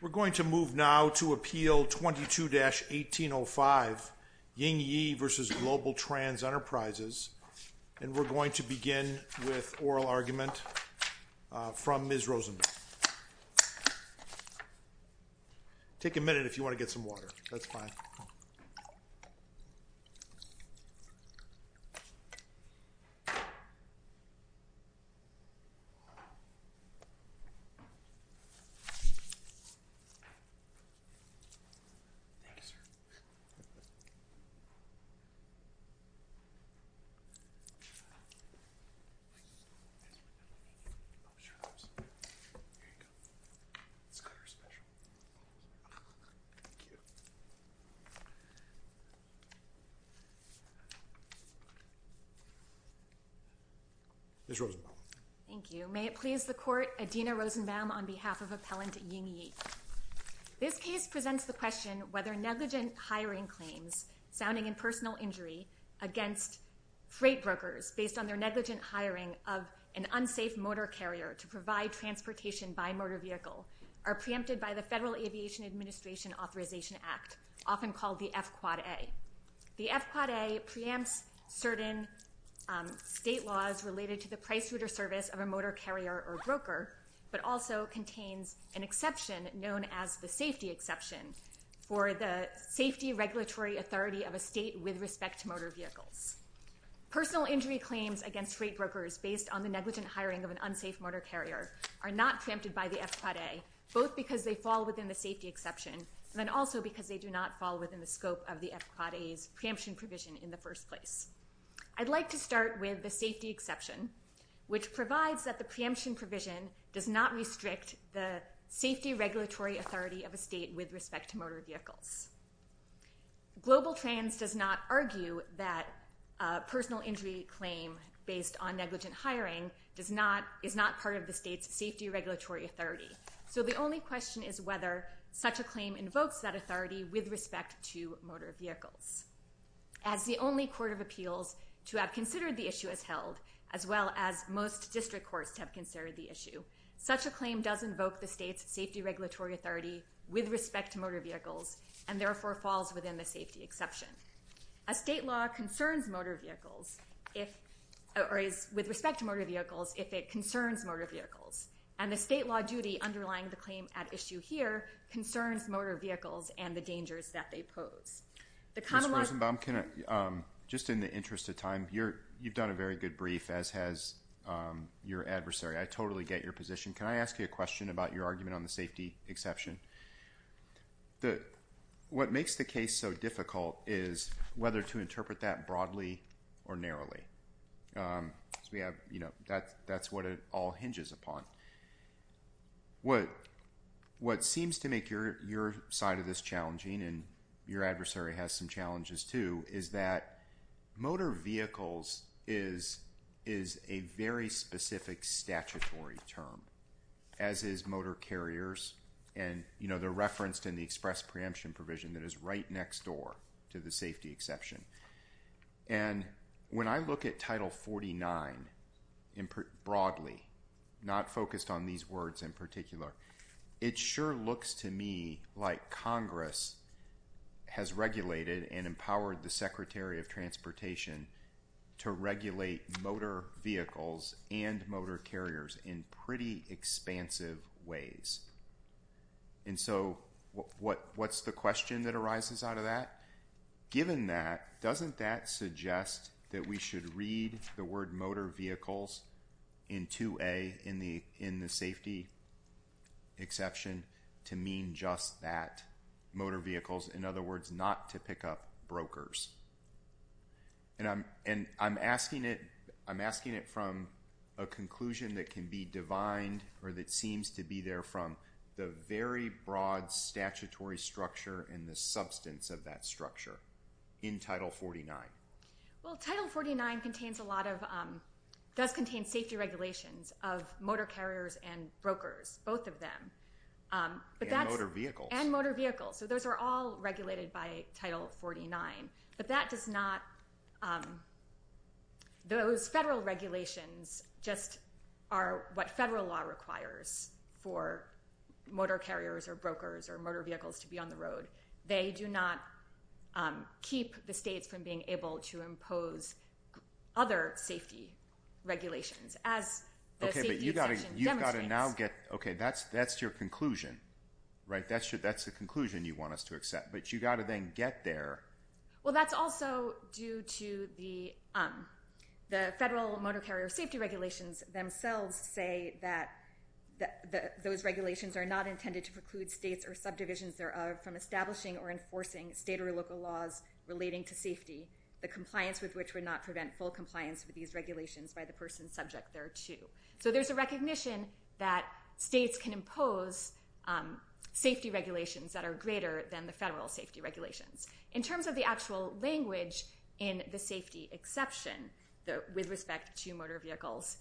We're going to move now to Appeal 22-1805, Ying Ye v. GlobalTranz Enterprises, and we're going to begin with oral argument from Ms. Rosenberg. Take a minute if you want to get some water, that's fine. Ms. Rosenberg. Thank you. May it please the Court, Adina Rosenberg on behalf of Appellant Ying Ye. This case presents the question whether negligent hiring claims sounding in personal injury against freight brokers based on their negligent hiring of an unsafe motor carrier to provide transportation by motor vehicle are preempted by the Federal Aviation Administration Authorization Act, often called the F-Quad-A. The F-Quad-A preempts certain state laws related to the price route or service of a motor carrier or broker, but also contains an exception known as the safety exception for the safety regulatory authority of a state with respect to motor vehicles. Personal injury claims against freight brokers based on the negligent hiring of an unsafe motor carrier are not preempted by the F-Quad-A, both because they fall within the safety exception and then also because they do not fall within the scope of the F-Quad-A's preemption provision in the first place. I'd like to start with the safety exception, which provides that the preemption provision does not restrict the safety regulatory authority of a state with respect to motor vehicles. Global Trans does not argue that a personal injury claim based on negligent hiring is not part of the state's safety regulatory authority. So the only question is whether such a claim invokes that authority with respect to motor vehicles. As the only court of appeals to have considered the issue as held, as well as most district courts to have considered the issue, such a claim does invoke the state's safety regulatory authority with respect to motor vehicles and therefore falls within the safety exception. A state law concerns motor vehicles, or is with respect to motor vehicles, if it concerns motor vehicles. And the state law duty underlying the claim at issue here concerns motor vehicles and the dangers that they pose. Ms. Rosenbaum, just in the interest of time, you've done a very good brief, as has your adversary. I totally get your position. Can I ask you a question about your argument on the safety exception? What makes the case so difficult is whether to interpret that broadly or narrowly. That's what it all hinges upon. What seems to make your side of this challenging, and your adversary has some challenges too, is that motor vehicles is a very specific statutory term, as is motor carriers. And they're referenced in the express preemption provision that is right next door to the safety exception. And when I look at Title 49 broadly, not focused on these words in particular, it sure looks to me like Congress has regulated and empowered the Secretary of Transportation to regulate motor vehicles and motor carriers in pretty expansive ways. And so what's the question that arises out of that? Given that, doesn't that suggest that we should read the word motor vehicles in 2A in the safety exception to mean just that, motor vehicles? In other words, not to pick up brokers. And I'm asking it from a conclusion that can be divined or that seems to be there from the very broad statutory structure and the substance of that structure in Title 49. Well, Title 49 does contain safety regulations of motor carriers and brokers, both of them. And motor vehicles. And motor vehicles. So those are all regulated by Title 49. But that does not – those federal regulations just are what federal law requires for motor carriers or brokers or motor vehicles to be on the road. They do not keep the states from being able to impose other safety regulations, as the safety exception demonstrates. Okay, but you've got to now get – okay, that's your conclusion, right? That's the conclusion you want us to accept. But you've got to then get there. Well, that's also due to the federal motor carrier safety regulations themselves say that those regulations are not intended to preclude states or subdivisions thereof from establishing or enforcing state or local laws relating to safety, the compliance with which would not prevent full compliance with these regulations by the person subject thereto. So there's a recognition that states can impose safety regulations that are greater than the federal safety regulations. In terms of the actual language in the safety exception with respect to motor vehicles,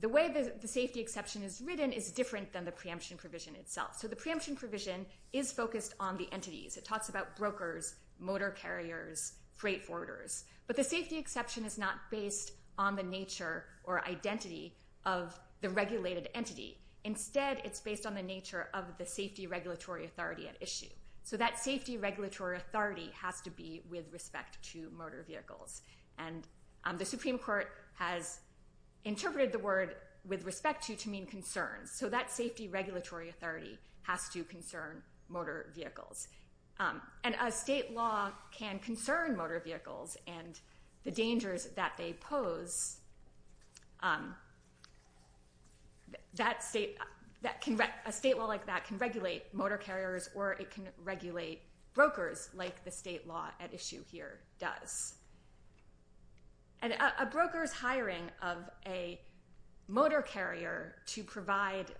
the way the safety exception is written is different than the preemption provision itself. So the preemption provision is focused on the entities. It talks about brokers, motor carriers, freight forwarders. But the safety exception is not based on the nature or identity of the regulated entity. Instead, it's based on the nature of the safety regulatory authority at issue. So that safety regulatory authority has to be with respect to motor vehicles. And the Supreme Court has interpreted the word with respect to to mean concerns. So that safety regulatory authority has to concern motor vehicles. And a state law can concern motor vehicles and the dangers that they pose. A state law like that can regulate motor carriers or it can regulate brokers like the state law at issue here does. And a broker's hiring of a motor carrier to provide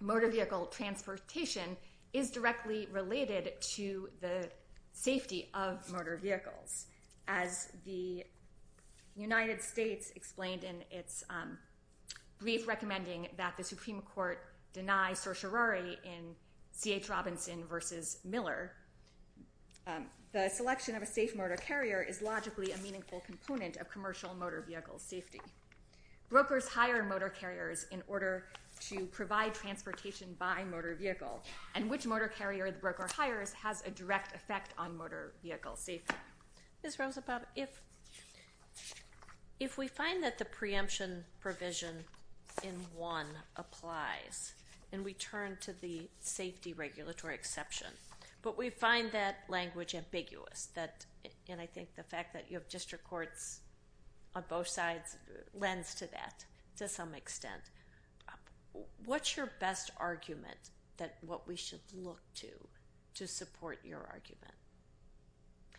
motor vehicle transportation is directly related to the safety of motor vehicles. As the United States explained in its brief recommending that the Supreme Court deny certiorari in C.H. Robinson versus Miller, the selection of a safe motor carrier is logically a meaningful component of commercial motor vehicle safety. Brokers hire motor carriers in order to provide transportation by motor vehicle. And which motor carrier the broker hires has a direct effect on motor vehicle safety. Ms. Rosenbaum, if we find that the preemption provision in one applies and we turn to the safety regulatory exception, but we find that language ambiguous, and I think the fact that you have district courts on both sides lends to that to some extent, what's your best argument that what we should look to to support your argument?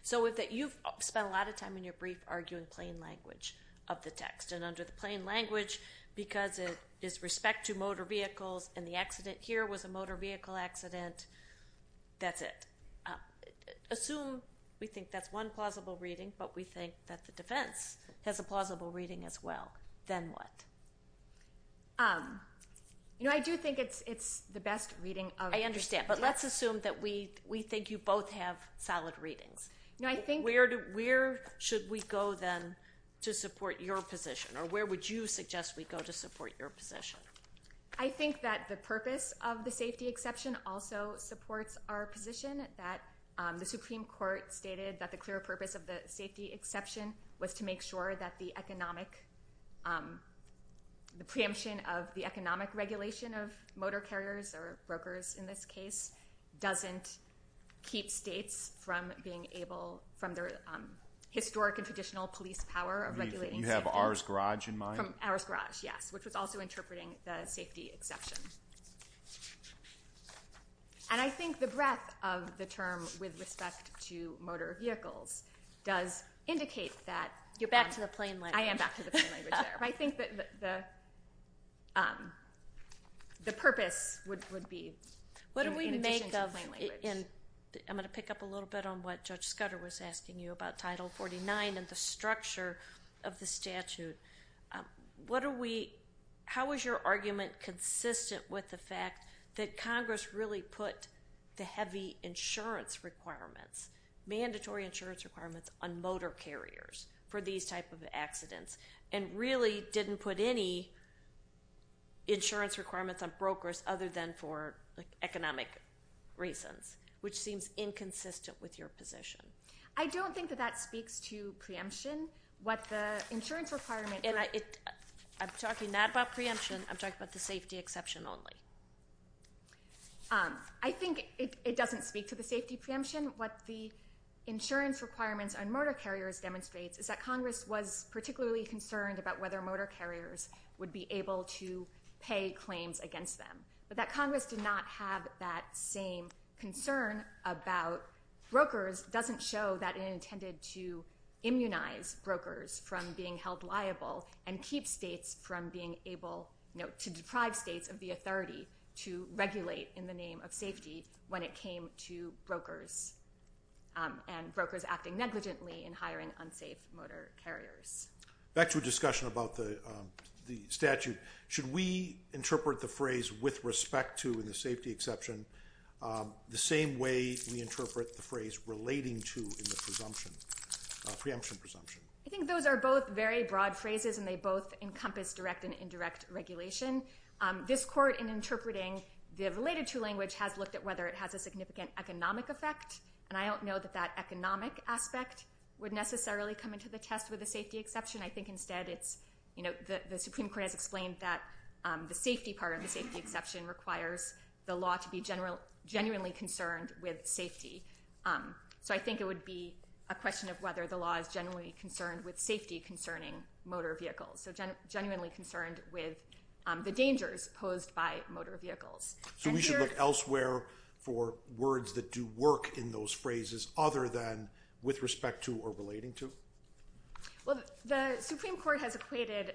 So you've spent a lot of time in your brief arguing plain language of the text. And under the plain language, because it is respect to motor vehicles and the accident here was a motor vehicle accident, that's it. Assume we think that's one plausible reading, but we think that the defense has a plausible reading as well. Then what? You know, I do think it's the best reading of the text. Yeah, but let's assume that we think you both have solid readings. Where should we go then to support your position, or where would you suggest we go to support your position? I think that the purpose of the safety exception also supports our position, that the Supreme Court stated that the clear purpose of the safety exception was to make sure that the economic, the preemption of the economic regulation of motor carriers or brokers in this case doesn't keep states from being able, from their historic and traditional police power of regulating safety. You have ours garage in mind? Ours garage, yes, which was also interpreting the safety exception. And I think the breadth of the term with respect to motor vehicles does indicate that. You're back to the plain language. I am back to the plain language there. I think that the purpose would be in addition to the plain language. What do we make of, and I'm going to pick up a little bit on what Judge Scudder was asking you about Title 49 and the structure of the statute. What are we, how is your argument consistent with the fact that Congress really put the heavy insurance requirements, mandatory insurance requirements on motor carriers for these type of accidents and really didn't put any insurance requirements on brokers other than for economic reasons, which seems inconsistent with your position? I don't think that that speaks to preemption. What the insurance requirements are. I'm talking not about preemption. I'm talking about the safety exception only. I think it doesn't speak to the safety preemption. What the insurance requirements on motor carriers demonstrates is that Congress was particularly concerned about whether motor carriers would be able to pay claims against them. But that Congress did not have that same concern about brokers doesn't show that it intended to immunize brokers from being held liable and keep states from being able to deprive states of the authority to regulate in the name of safety when it came to brokers and brokers acting negligently in hiring unsafe motor carriers. Back to a discussion about the statute. Should we interpret the phrase with respect to the safety exception the same way we interpret the phrase relating to the preemption presumption? I think those are both very broad phrases and they both encompass direct and indirect regulation. This court in interpreting the related to language has looked at whether it has a significant economic effect. And I don't know that that economic aspect would necessarily come into the test with a safety exception. I think instead it's, you know, the Supreme Court has explained that the safety part of the safety exception requires the law to be genuinely concerned with safety. So I think it would be a question of whether the law is genuinely concerned with safety concerning motor vehicles. So genuinely concerned with the dangers posed by motor vehicles. So we should look elsewhere for words that do work in those phrases other than with respect to or relating to? Well, the Supreme Court has equated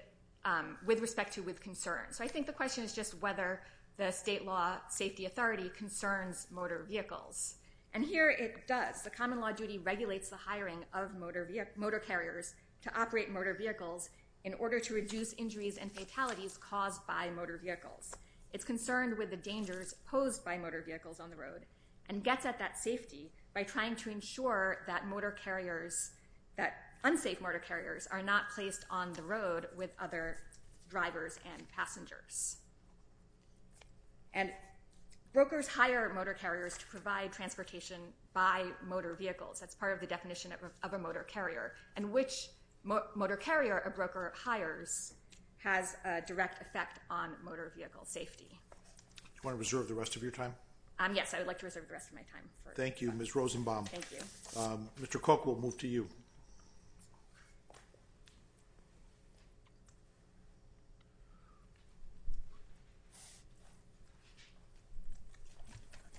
with respect to with concern. So I think the question is just whether the state law safety authority concerns motor vehicles. And here it does. The common law duty regulates the hiring of motor carriers to operate motor vehicles in order to reduce injuries and fatalities caused by motor vehicles. It's concerned with the dangers posed by motor vehicles on the road and gets at that safety by trying to ensure that motor carriers, that unsafe motor carriers are not placed on the road with other drivers and passengers. And brokers hire motor carriers to provide transportation by motor vehicles. That's part of the definition of a motor carrier. And which motor carrier a broker hires has a direct effect on motor vehicle safety. Do you want to reserve the rest of your time? Yes, I would like to reserve the rest of my time. Thank you, Ms. Rosenbaum. Thank you. Mr. Cook, we'll move to you.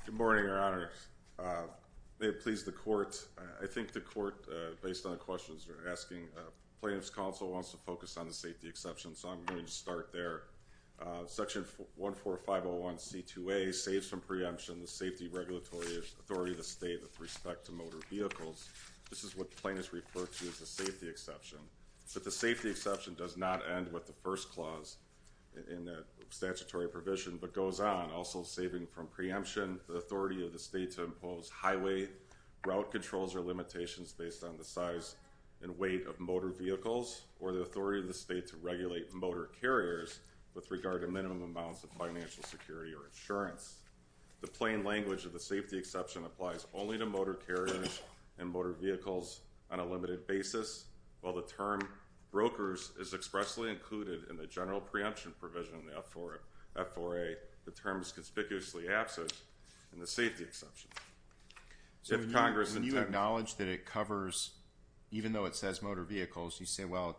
Good morning, Your Honor. May it please the court. I think the court, based on the questions you're asking, plaintiff's counsel wants to focus on the safety exceptions, so I'm going to start there. Section 14501C2A saves from preemption the safety regulatory authority of the state with respect to motor vehicles. This is what plaintiffs refer to as the safety exception. The safety exception does not end with the first clause in the statutory provision, but goes on, also saving from preemption the authority of the state to impose highway route controls or limitations based on the size and weight of motor vehicles, or the authority of the state to regulate motor carriers with regard to minimum amounts of financial security or insurance. The plain language of the safety exception applies only to motor carriers and motor vehicles on a limited basis. While the term brokers is expressly included in the general preemption provision in the F4A, the term is conspicuously absent in the safety exception. So when you acknowledge that it covers, even though it says motor vehicles, you say, well,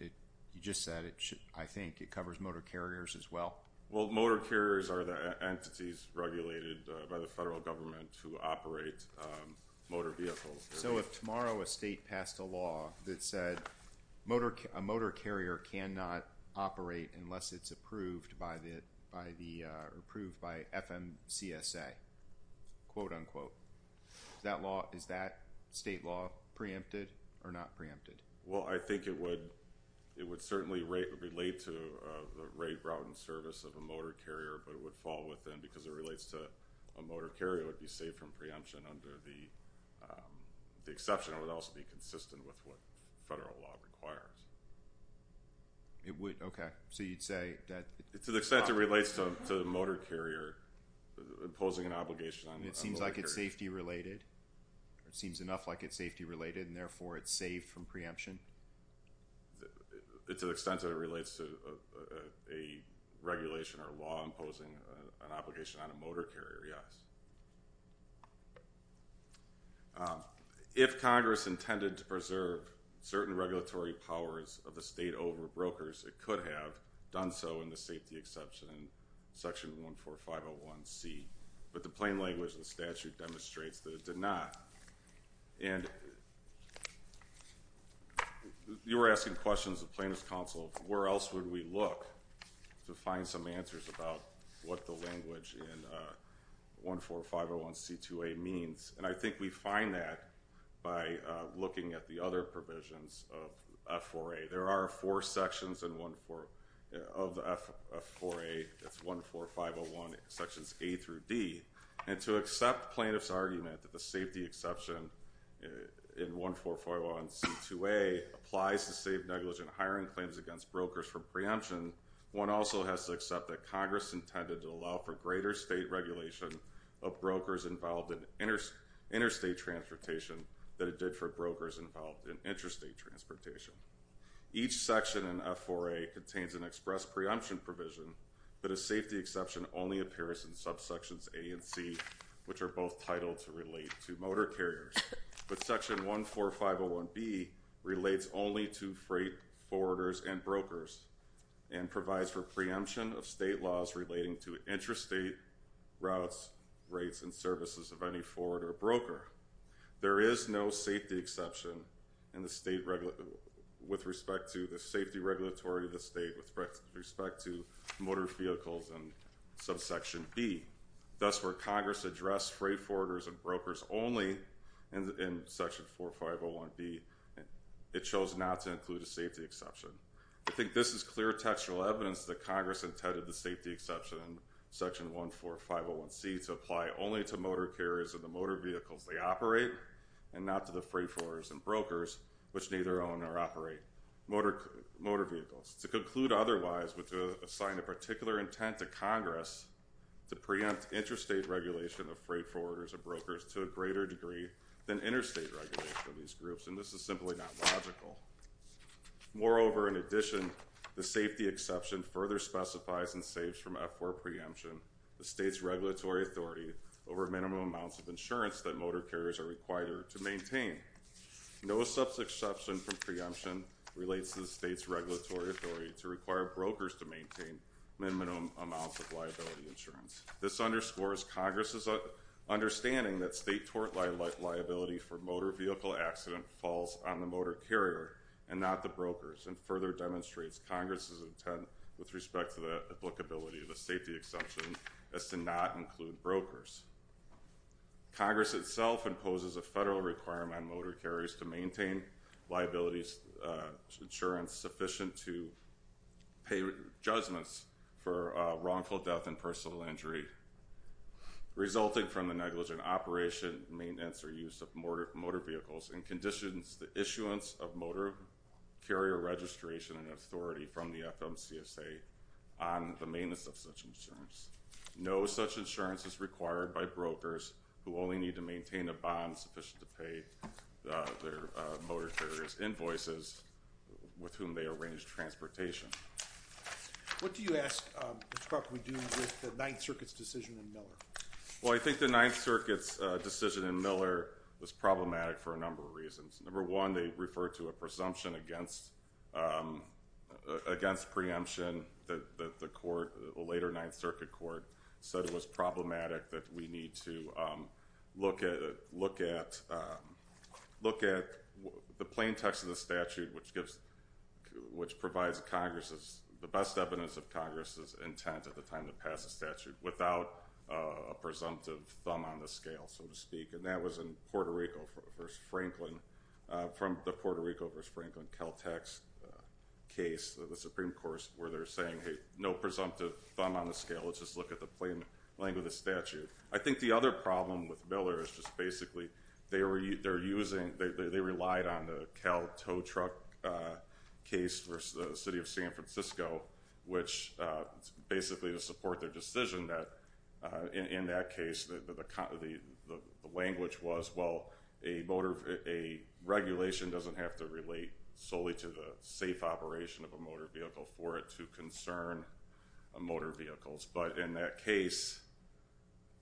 you just said it should, I think it covers motor carriers as well. Well, motor carriers are the entities regulated by the federal government to operate motor vehicles. So if tomorrow a state passed a law that said a motor carrier cannot operate unless it's approved by FMCSA, quote, unquote, is that state law preempted or not preempted? Well, I think it would certainly relate to the rate, route, and service of a motor carrier, but it would fall within because it relates to a motor carrier would be saved from preemption under the exception. It would also be consistent with what federal law requires. It would? Okay. So you'd say that? To the extent it relates to the motor carrier, imposing an obligation on the motor carrier. It seems like it's safety related, or it seems enough like it's safety related, and therefore it's saved from preemption? To the extent that it relates to a regulation or law imposing an obligation on a motor carrier, yes. If Congress intended to preserve certain regulatory powers of the state over brokers, it could have done so in the safety exception in Section 14501C, but the plain language of the statute demonstrates that it did not. And you were asking questions of the Plaintiff's Counsel of where else would we look to find some answers about what the language in 14501C2A means, and I think we find that by looking at the other provisions of F4A. There are four sections of the F4A. It's 14501 sections A through D, and to accept Plaintiff's argument that the safety exception in 14501C2A applies to save negligent hiring claims against brokers for preemption, one also has to accept that Congress intended to allow for greater state regulation of brokers involved in interstate transportation than it did for brokers involved in interstate transportation. Each section in F4A contains an express preemption provision, but a safety exception only appears in subsections A and C, which are both titled to relate to motor carriers. But Section 14501B relates only to freight forwarders and brokers and provides for preemption of state laws relating to interstate routes, rates, and services of any forwarder or broker. There is no safety exception with respect to the safety regulatory of the state with respect to motor vehicles in subsection B. Thus, where Congress addressed freight forwarders and brokers only in Section 4501B, it chose not to include a safety exception. I think this is clear textual evidence that Congress intended the safety exception in Section 14501C to apply only to motor carriers and the motor vehicles they operate and not to the freight forwarders and brokers, which neither own nor operate motor vehicles. To conclude otherwise would assign a particular intent to Congress to preempt interstate regulation of freight forwarders and brokers to a greater degree than interstate regulation of these groups, and this is simply not logical. Moreover, in addition, the safety exception further specifies and saves from F4 preemption the state's regulatory authority over minimum amounts of insurance that motor carriers are required to maintain. No subsection from preemption relates to the state's regulatory authority to require brokers to maintain minimum amounts of liability insurance. This underscores Congress's understanding that state tort liability for motor vehicle accident falls on the motor carrier and not the brokers and further demonstrates Congress's intent with respect to the applicability of the safety exception as to not include brokers. Congress itself imposes a federal requirement on motor carriers to maintain liability insurance sufficient to pay judgments for wrongful death and personal injury resulting from the negligent operation, maintenance, or use of motor vehicles and conditions the issuance of motor carrier registration and authority from the FMCSA on the maintenance of such insurance. No such insurance is required by brokers who only need to maintain a bond sufficient to pay their motor carrier's invoices with whom they arrange transportation. What do you ask the court to do with the Ninth Circuit's decision in Miller? Well, I think the Ninth Circuit's decision in Miller was problematic for a number of reasons. Number one, they referred to a presumption against preemption that the court, the later Ninth Circuit court, said it was problematic that we need to look at the plain text of the statute which provides the best evidence of Congress's intent at the time to pass a statute without a presumptive thumb on the scale, so to speak. And that was in Puerto Rico v. Franklin, from the Puerto Rico v. Franklin Cal Tech's case, the Supreme Court's, where they're saying, hey, no presumptive thumb on the scale, let's just look at the plain language of the statute. I think the other problem with Miller is just basically they relied on the Cal Tow Truck case versus the city of San Francisco, which basically to support their decision, in that case, the language was, well, a regulation doesn't have to relate solely to the safe operation of a motor vehicle for it to concern motor vehicles, but in that case,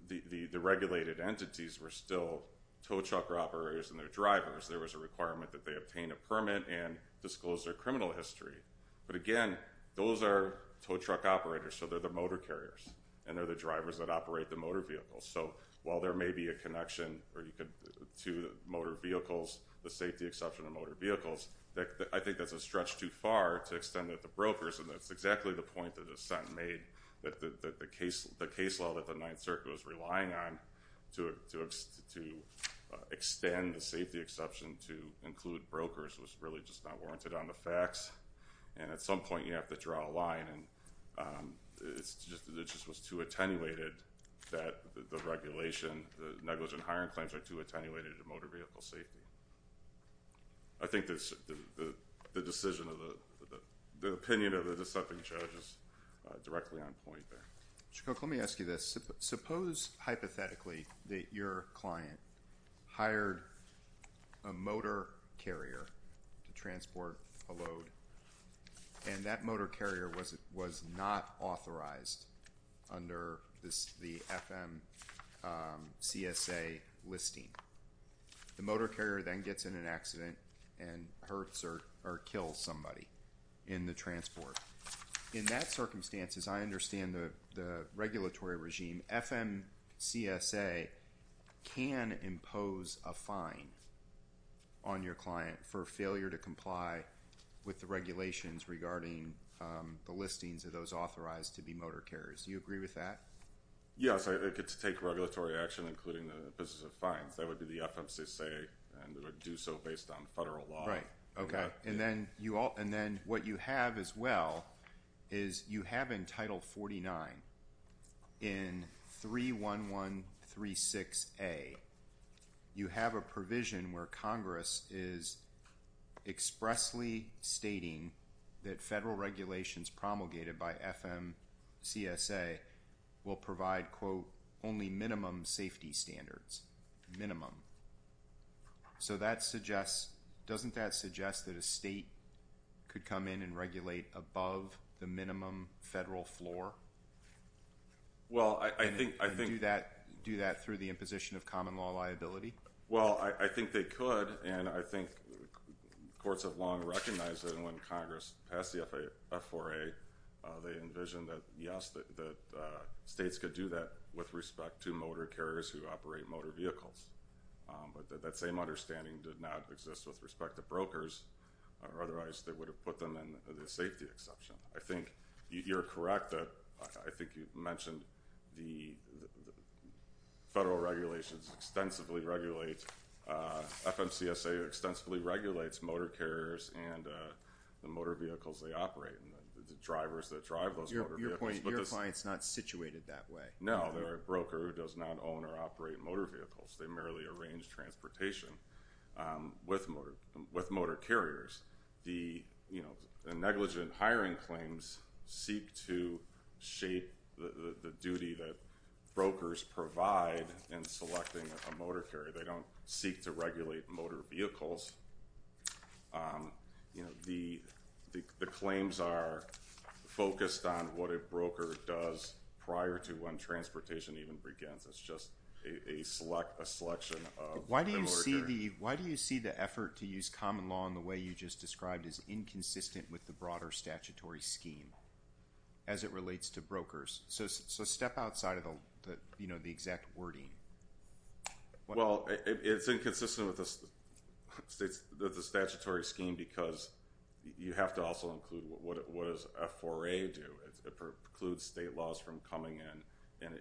the regulated entities were still tow truck operators and their drivers. There was a requirement that they obtain a permit and disclose their criminal history. But again, those are tow truck operators, so they're the motor carriers, and they're the drivers that operate the motor vehicles. So while there may be a connection to motor vehicles, the safety exception of motor vehicles, I think that's a stretch too far to extend it to brokers, and that's exactly the point that Assent made, that the case law that the Ninth Circuit was relying on to extend the safety exception to include brokers was really just not warranted on the facts. And at some point, you have to draw a line, and it just was too attenuated that the regulation, the negligent hiring claims are too attenuated to motor vehicle safety. I think the decision of the opinion of the deceptive judge is directly on point there. Mr. Cook, let me ask you this. Suppose hypothetically that your client hired a motor carrier to transport a load, and that motor carrier was not authorized under the FMCSA listing. The motor carrier then gets in an accident and hurts or kills somebody in the transport. In that circumstance, as I understand the regulatory regime, FMCSA can impose a fine on your client for failure to comply with the regulations regarding the listings of those authorized to be motor carriers. Do you agree with that? Yes. I think it's take regulatory action, including the business of fines. That would be the FMCSA, and it would do so based on federal law. Right. Okay. And then what you have as well is you have in Title 49, in 31136A, you have a provision where Congress is expressly stating that federal regulations promulgated by FMCSA will provide, quote, only minimum safety standards. Minimum. So doesn't that suggest that a state could come in and regulate above the minimum federal floor? Well, I think they could. And do that through the imposition of common law liability? Well, I think they could, and I think courts have long recognized that. And when Congress passed the F4A, they envisioned that, yes, that states could do that with respect to motor carriers who operate motor vehicles. But that same understanding did not exist with respect to brokers, or otherwise they would have put them in the safety exception. I think you're correct that I think you mentioned the federal regulations extensively regulate, FMCSA extensively regulates motor carriers and the motor vehicles they operate, and the drivers that drive those motor vehicles. Your point is your client's not situated that way. No, they're a broker who does not own or operate motor vehicles. They merely arrange transportation with motor carriers. The negligent hiring claims seek to shape the duty that brokers provide in selecting a motor carrier. They don't seek to regulate motor vehicles. The claims are focused on what a broker does prior to when transportation even begins. Why do you see the effort to use common law in the way you just described as inconsistent with the broader statutory scheme as it relates to brokers? So step outside of the exact wording. Well, it's inconsistent with the statutory scheme because you have to also include what does F4A do. It precludes state laws from coming in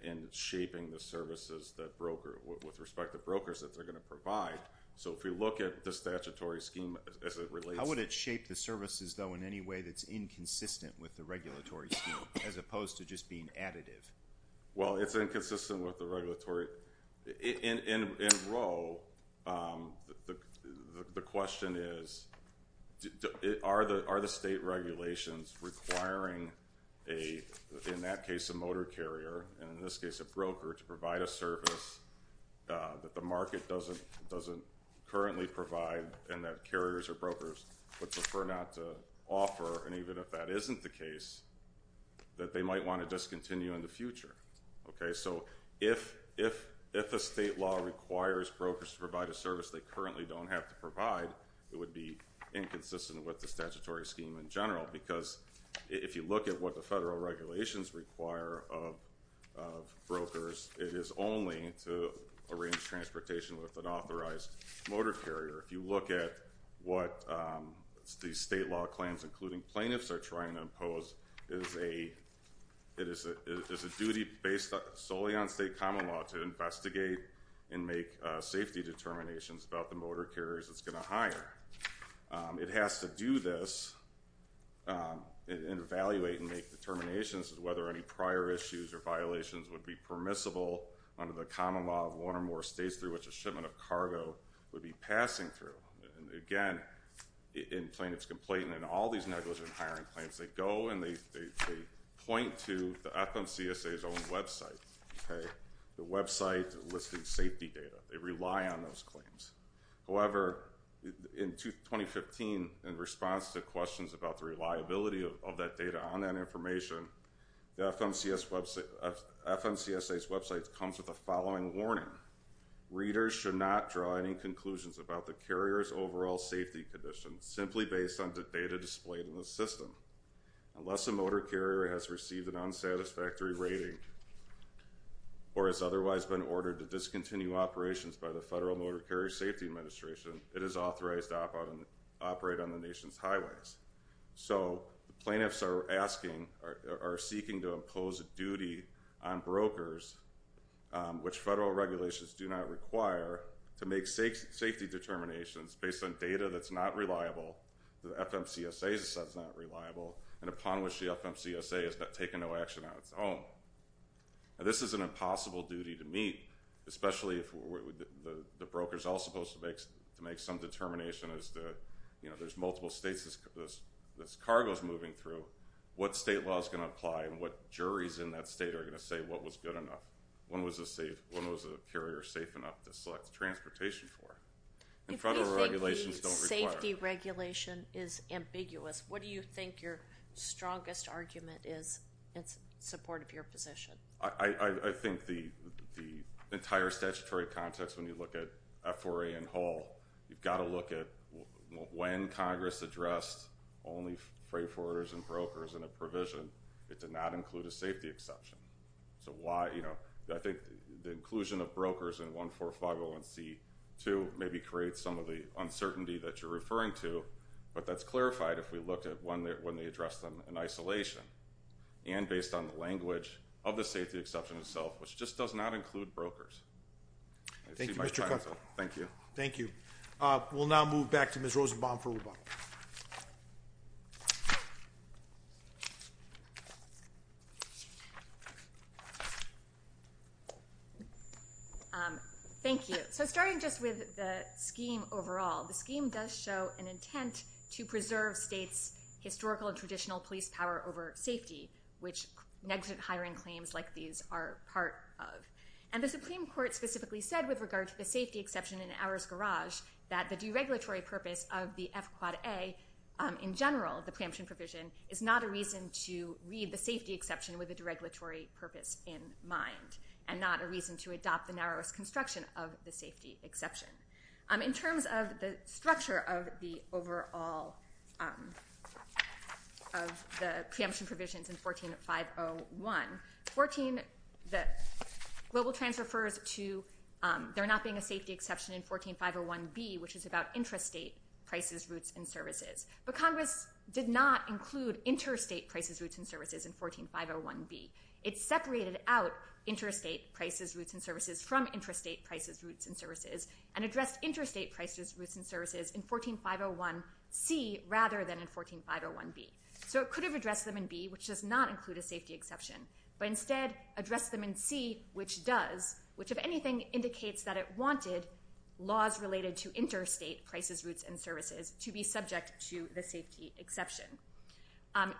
and shaping the services that brokers, with respect to brokers, that they're going to provide. So if we look at the statutory scheme as it relates. How would it shape the services, though, in any way that's inconsistent with the regulatory scheme, as opposed to just being additive? Well, it's inconsistent with the regulatory. In Roe, the question is are the state regulations requiring, in that case, a motor carrier, and in this case a broker, to provide a service that the market doesn't currently provide and that carriers or brokers would prefer not to offer. And even if that isn't the case, that they might want to discontinue in the future. So if a state law requires brokers to provide a service they currently don't have to provide, it would be inconsistent with the statutory scheme in general. Because if you look at what the federal regulations require of brokers, it is only to arrange transportation with an authorized motor carrier. If you look at what the state law claims, including plaintiffs, are trying to impose, it is a duty based solely on state common law to investigate and make safety determinations about the motor carriers it's going to hire. It has to do this and evaluate and make determinations as to whether any prior issues or violations would be permissible under the common law of one or more states through which a shipment of cargo would be passing through. And, again, in plaintiff's complaint and in all these negligent hiring claims, they go and they point to the FMCSA's own website, the website listing safety data. They rely on those claims. However, in 2015, in response to questions about the reliability of that data on that information, the FMCSA's website comes with the following warning. Readers should not draw any conclusions about the carrier's overall safety conditions simply based on the data displayed in the system. Unless a motor carrier has received an unsatisfactory rating or has otherwise been ordered to discontinue operations by the Federal Motor Carrier Safety Administration, it is authorized to operate on the nation's highways. So the plaintiffs are seeking to impose a duty on brokers, which federal regulations do not require, to make safety determinations based on data that's not reliable, the FMCSA's data that's not reliable, and upon which the FMCSA has taken no action on its own. This is an impossible duty to meet, especially if the broker is all supposed to make some determination as to, you know, there's multiple states this cargo is moving through. What state law is going to apply and what juries in that state are going to say what was good enough? When was a carrier safe enough to select transportation for? And federal regulations don't require. If you think the safety regulation is ambiguous, what do you think your strongest argument is in support of your position? I think the entire statutory context, when you look at F4A and Hull, you've got to look at when Congress addressed only freight forwarders and brokers in a provision, it did not include a safety exception. So why, you know, I think the inclusion of brokers in 14501C2 maybe creates some of the uncertainty that you're referring to, but that's clarified if we looked at when they addressed them in isolation, and based on the language of the safety exception itself, which just does not include brokers. Thank you, Mr. Cutler. Thank you. Thank you. We'll now move back to Ms. Rosenbaum for rebuttal. Thank you. So starting just with the scheme overall, the scheme does show an intent to preserve states' historical and traditional police power over safety, which negligent hiring claims like these are part of. And the Supreme Court specifically said with regard to the safety exception in Auer's garage that the deregulatory purpose of the F quad A, in general, the preemption provision, is not a reason to read the safety exception with a deregulatory purpose in mind and not a reason to adopt the narrowest construction of the safety exception. In terms of the structure of the overall of the preemption provisions in 14501, Global Trans refers to there not being a safety exception in 14501B, which is about intrastate prices, routes, and services. But Congress did not include interstate prices, routes, and services in 14501B. It separated out interstate prices, routes, and services from intrastate prices, routes, and services and addressed interstate prices, routes, and services in 14501C rather than in 14501B. So it could have addressed them in B, which does not include a safety exception, but instead addressed them in C, which does, which, if anything, indicates that it wanted laws related to interstate prices, routes, and services to be subject to the safety exception.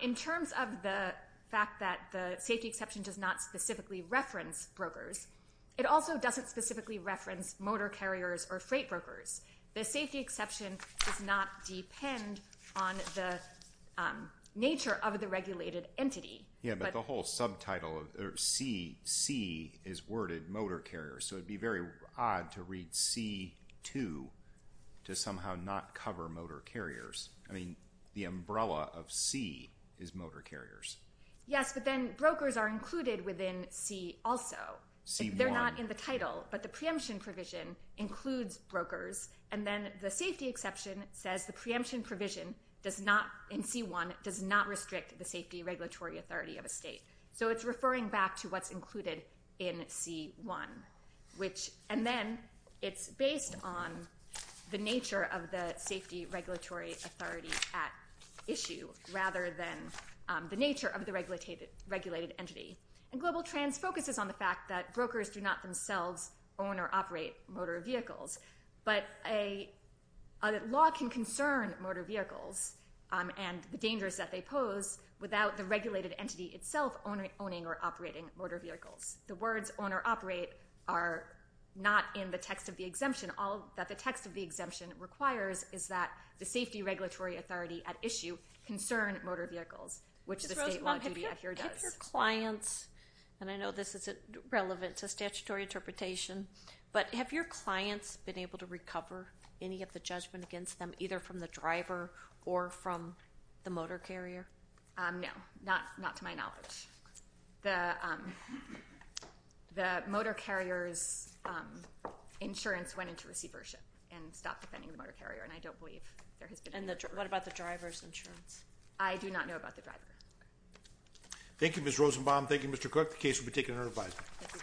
In terms of the fact that the safety exception does not specifically reference brokers, it also doesn't specifically reference motor carriers or freight brokers. The safety exception does not depend on the nature of the regulated entity. Yeah, but the whole subtitle of C, C is worded motor carriers, so it would be very odd to read C2 to somehow not cover motor carriers. I mean, the umbrella of C is motor carriers. Yes, but then brokers are included within C also. C1. It's not in the title, but the preemption provision includes brokers, and then the safety exception says the preemption provision does not, in C1, does not restrict the safety regulatory authority of a state. So it's referring back to what's included in C1. And then it's based on the nature of the safety regulatory authority at issue rather than the nature of the regulated entity. And Global Trans focuses on the fact that brokers do not themselves own or operate motor vehicles, but a law can concern motor vehicles and the dangers that they pose without the regulated entity itself owning or operating motor vehicles. The words own or operate are not in the text of the exemption. All that the text of the exemption requires is that the safety regulatory authority at issue concern motor vehicles, which the state law duty here does. Have your clients, and I know this is relevant to statutory interpretation, but have your clients been able to recover any of the judgment against them, either from the driver or from the motor carrier? No, not to my knowledge. The motor carrier's insurance went into receivership and stopped defending the motor carrier, and I don't believe there has been. And what about the driver's insurance? I do not know about the driver. Thank you, Ms. Rosenbaum. Thank you, Mr. Cook. The case will be taken under advisement.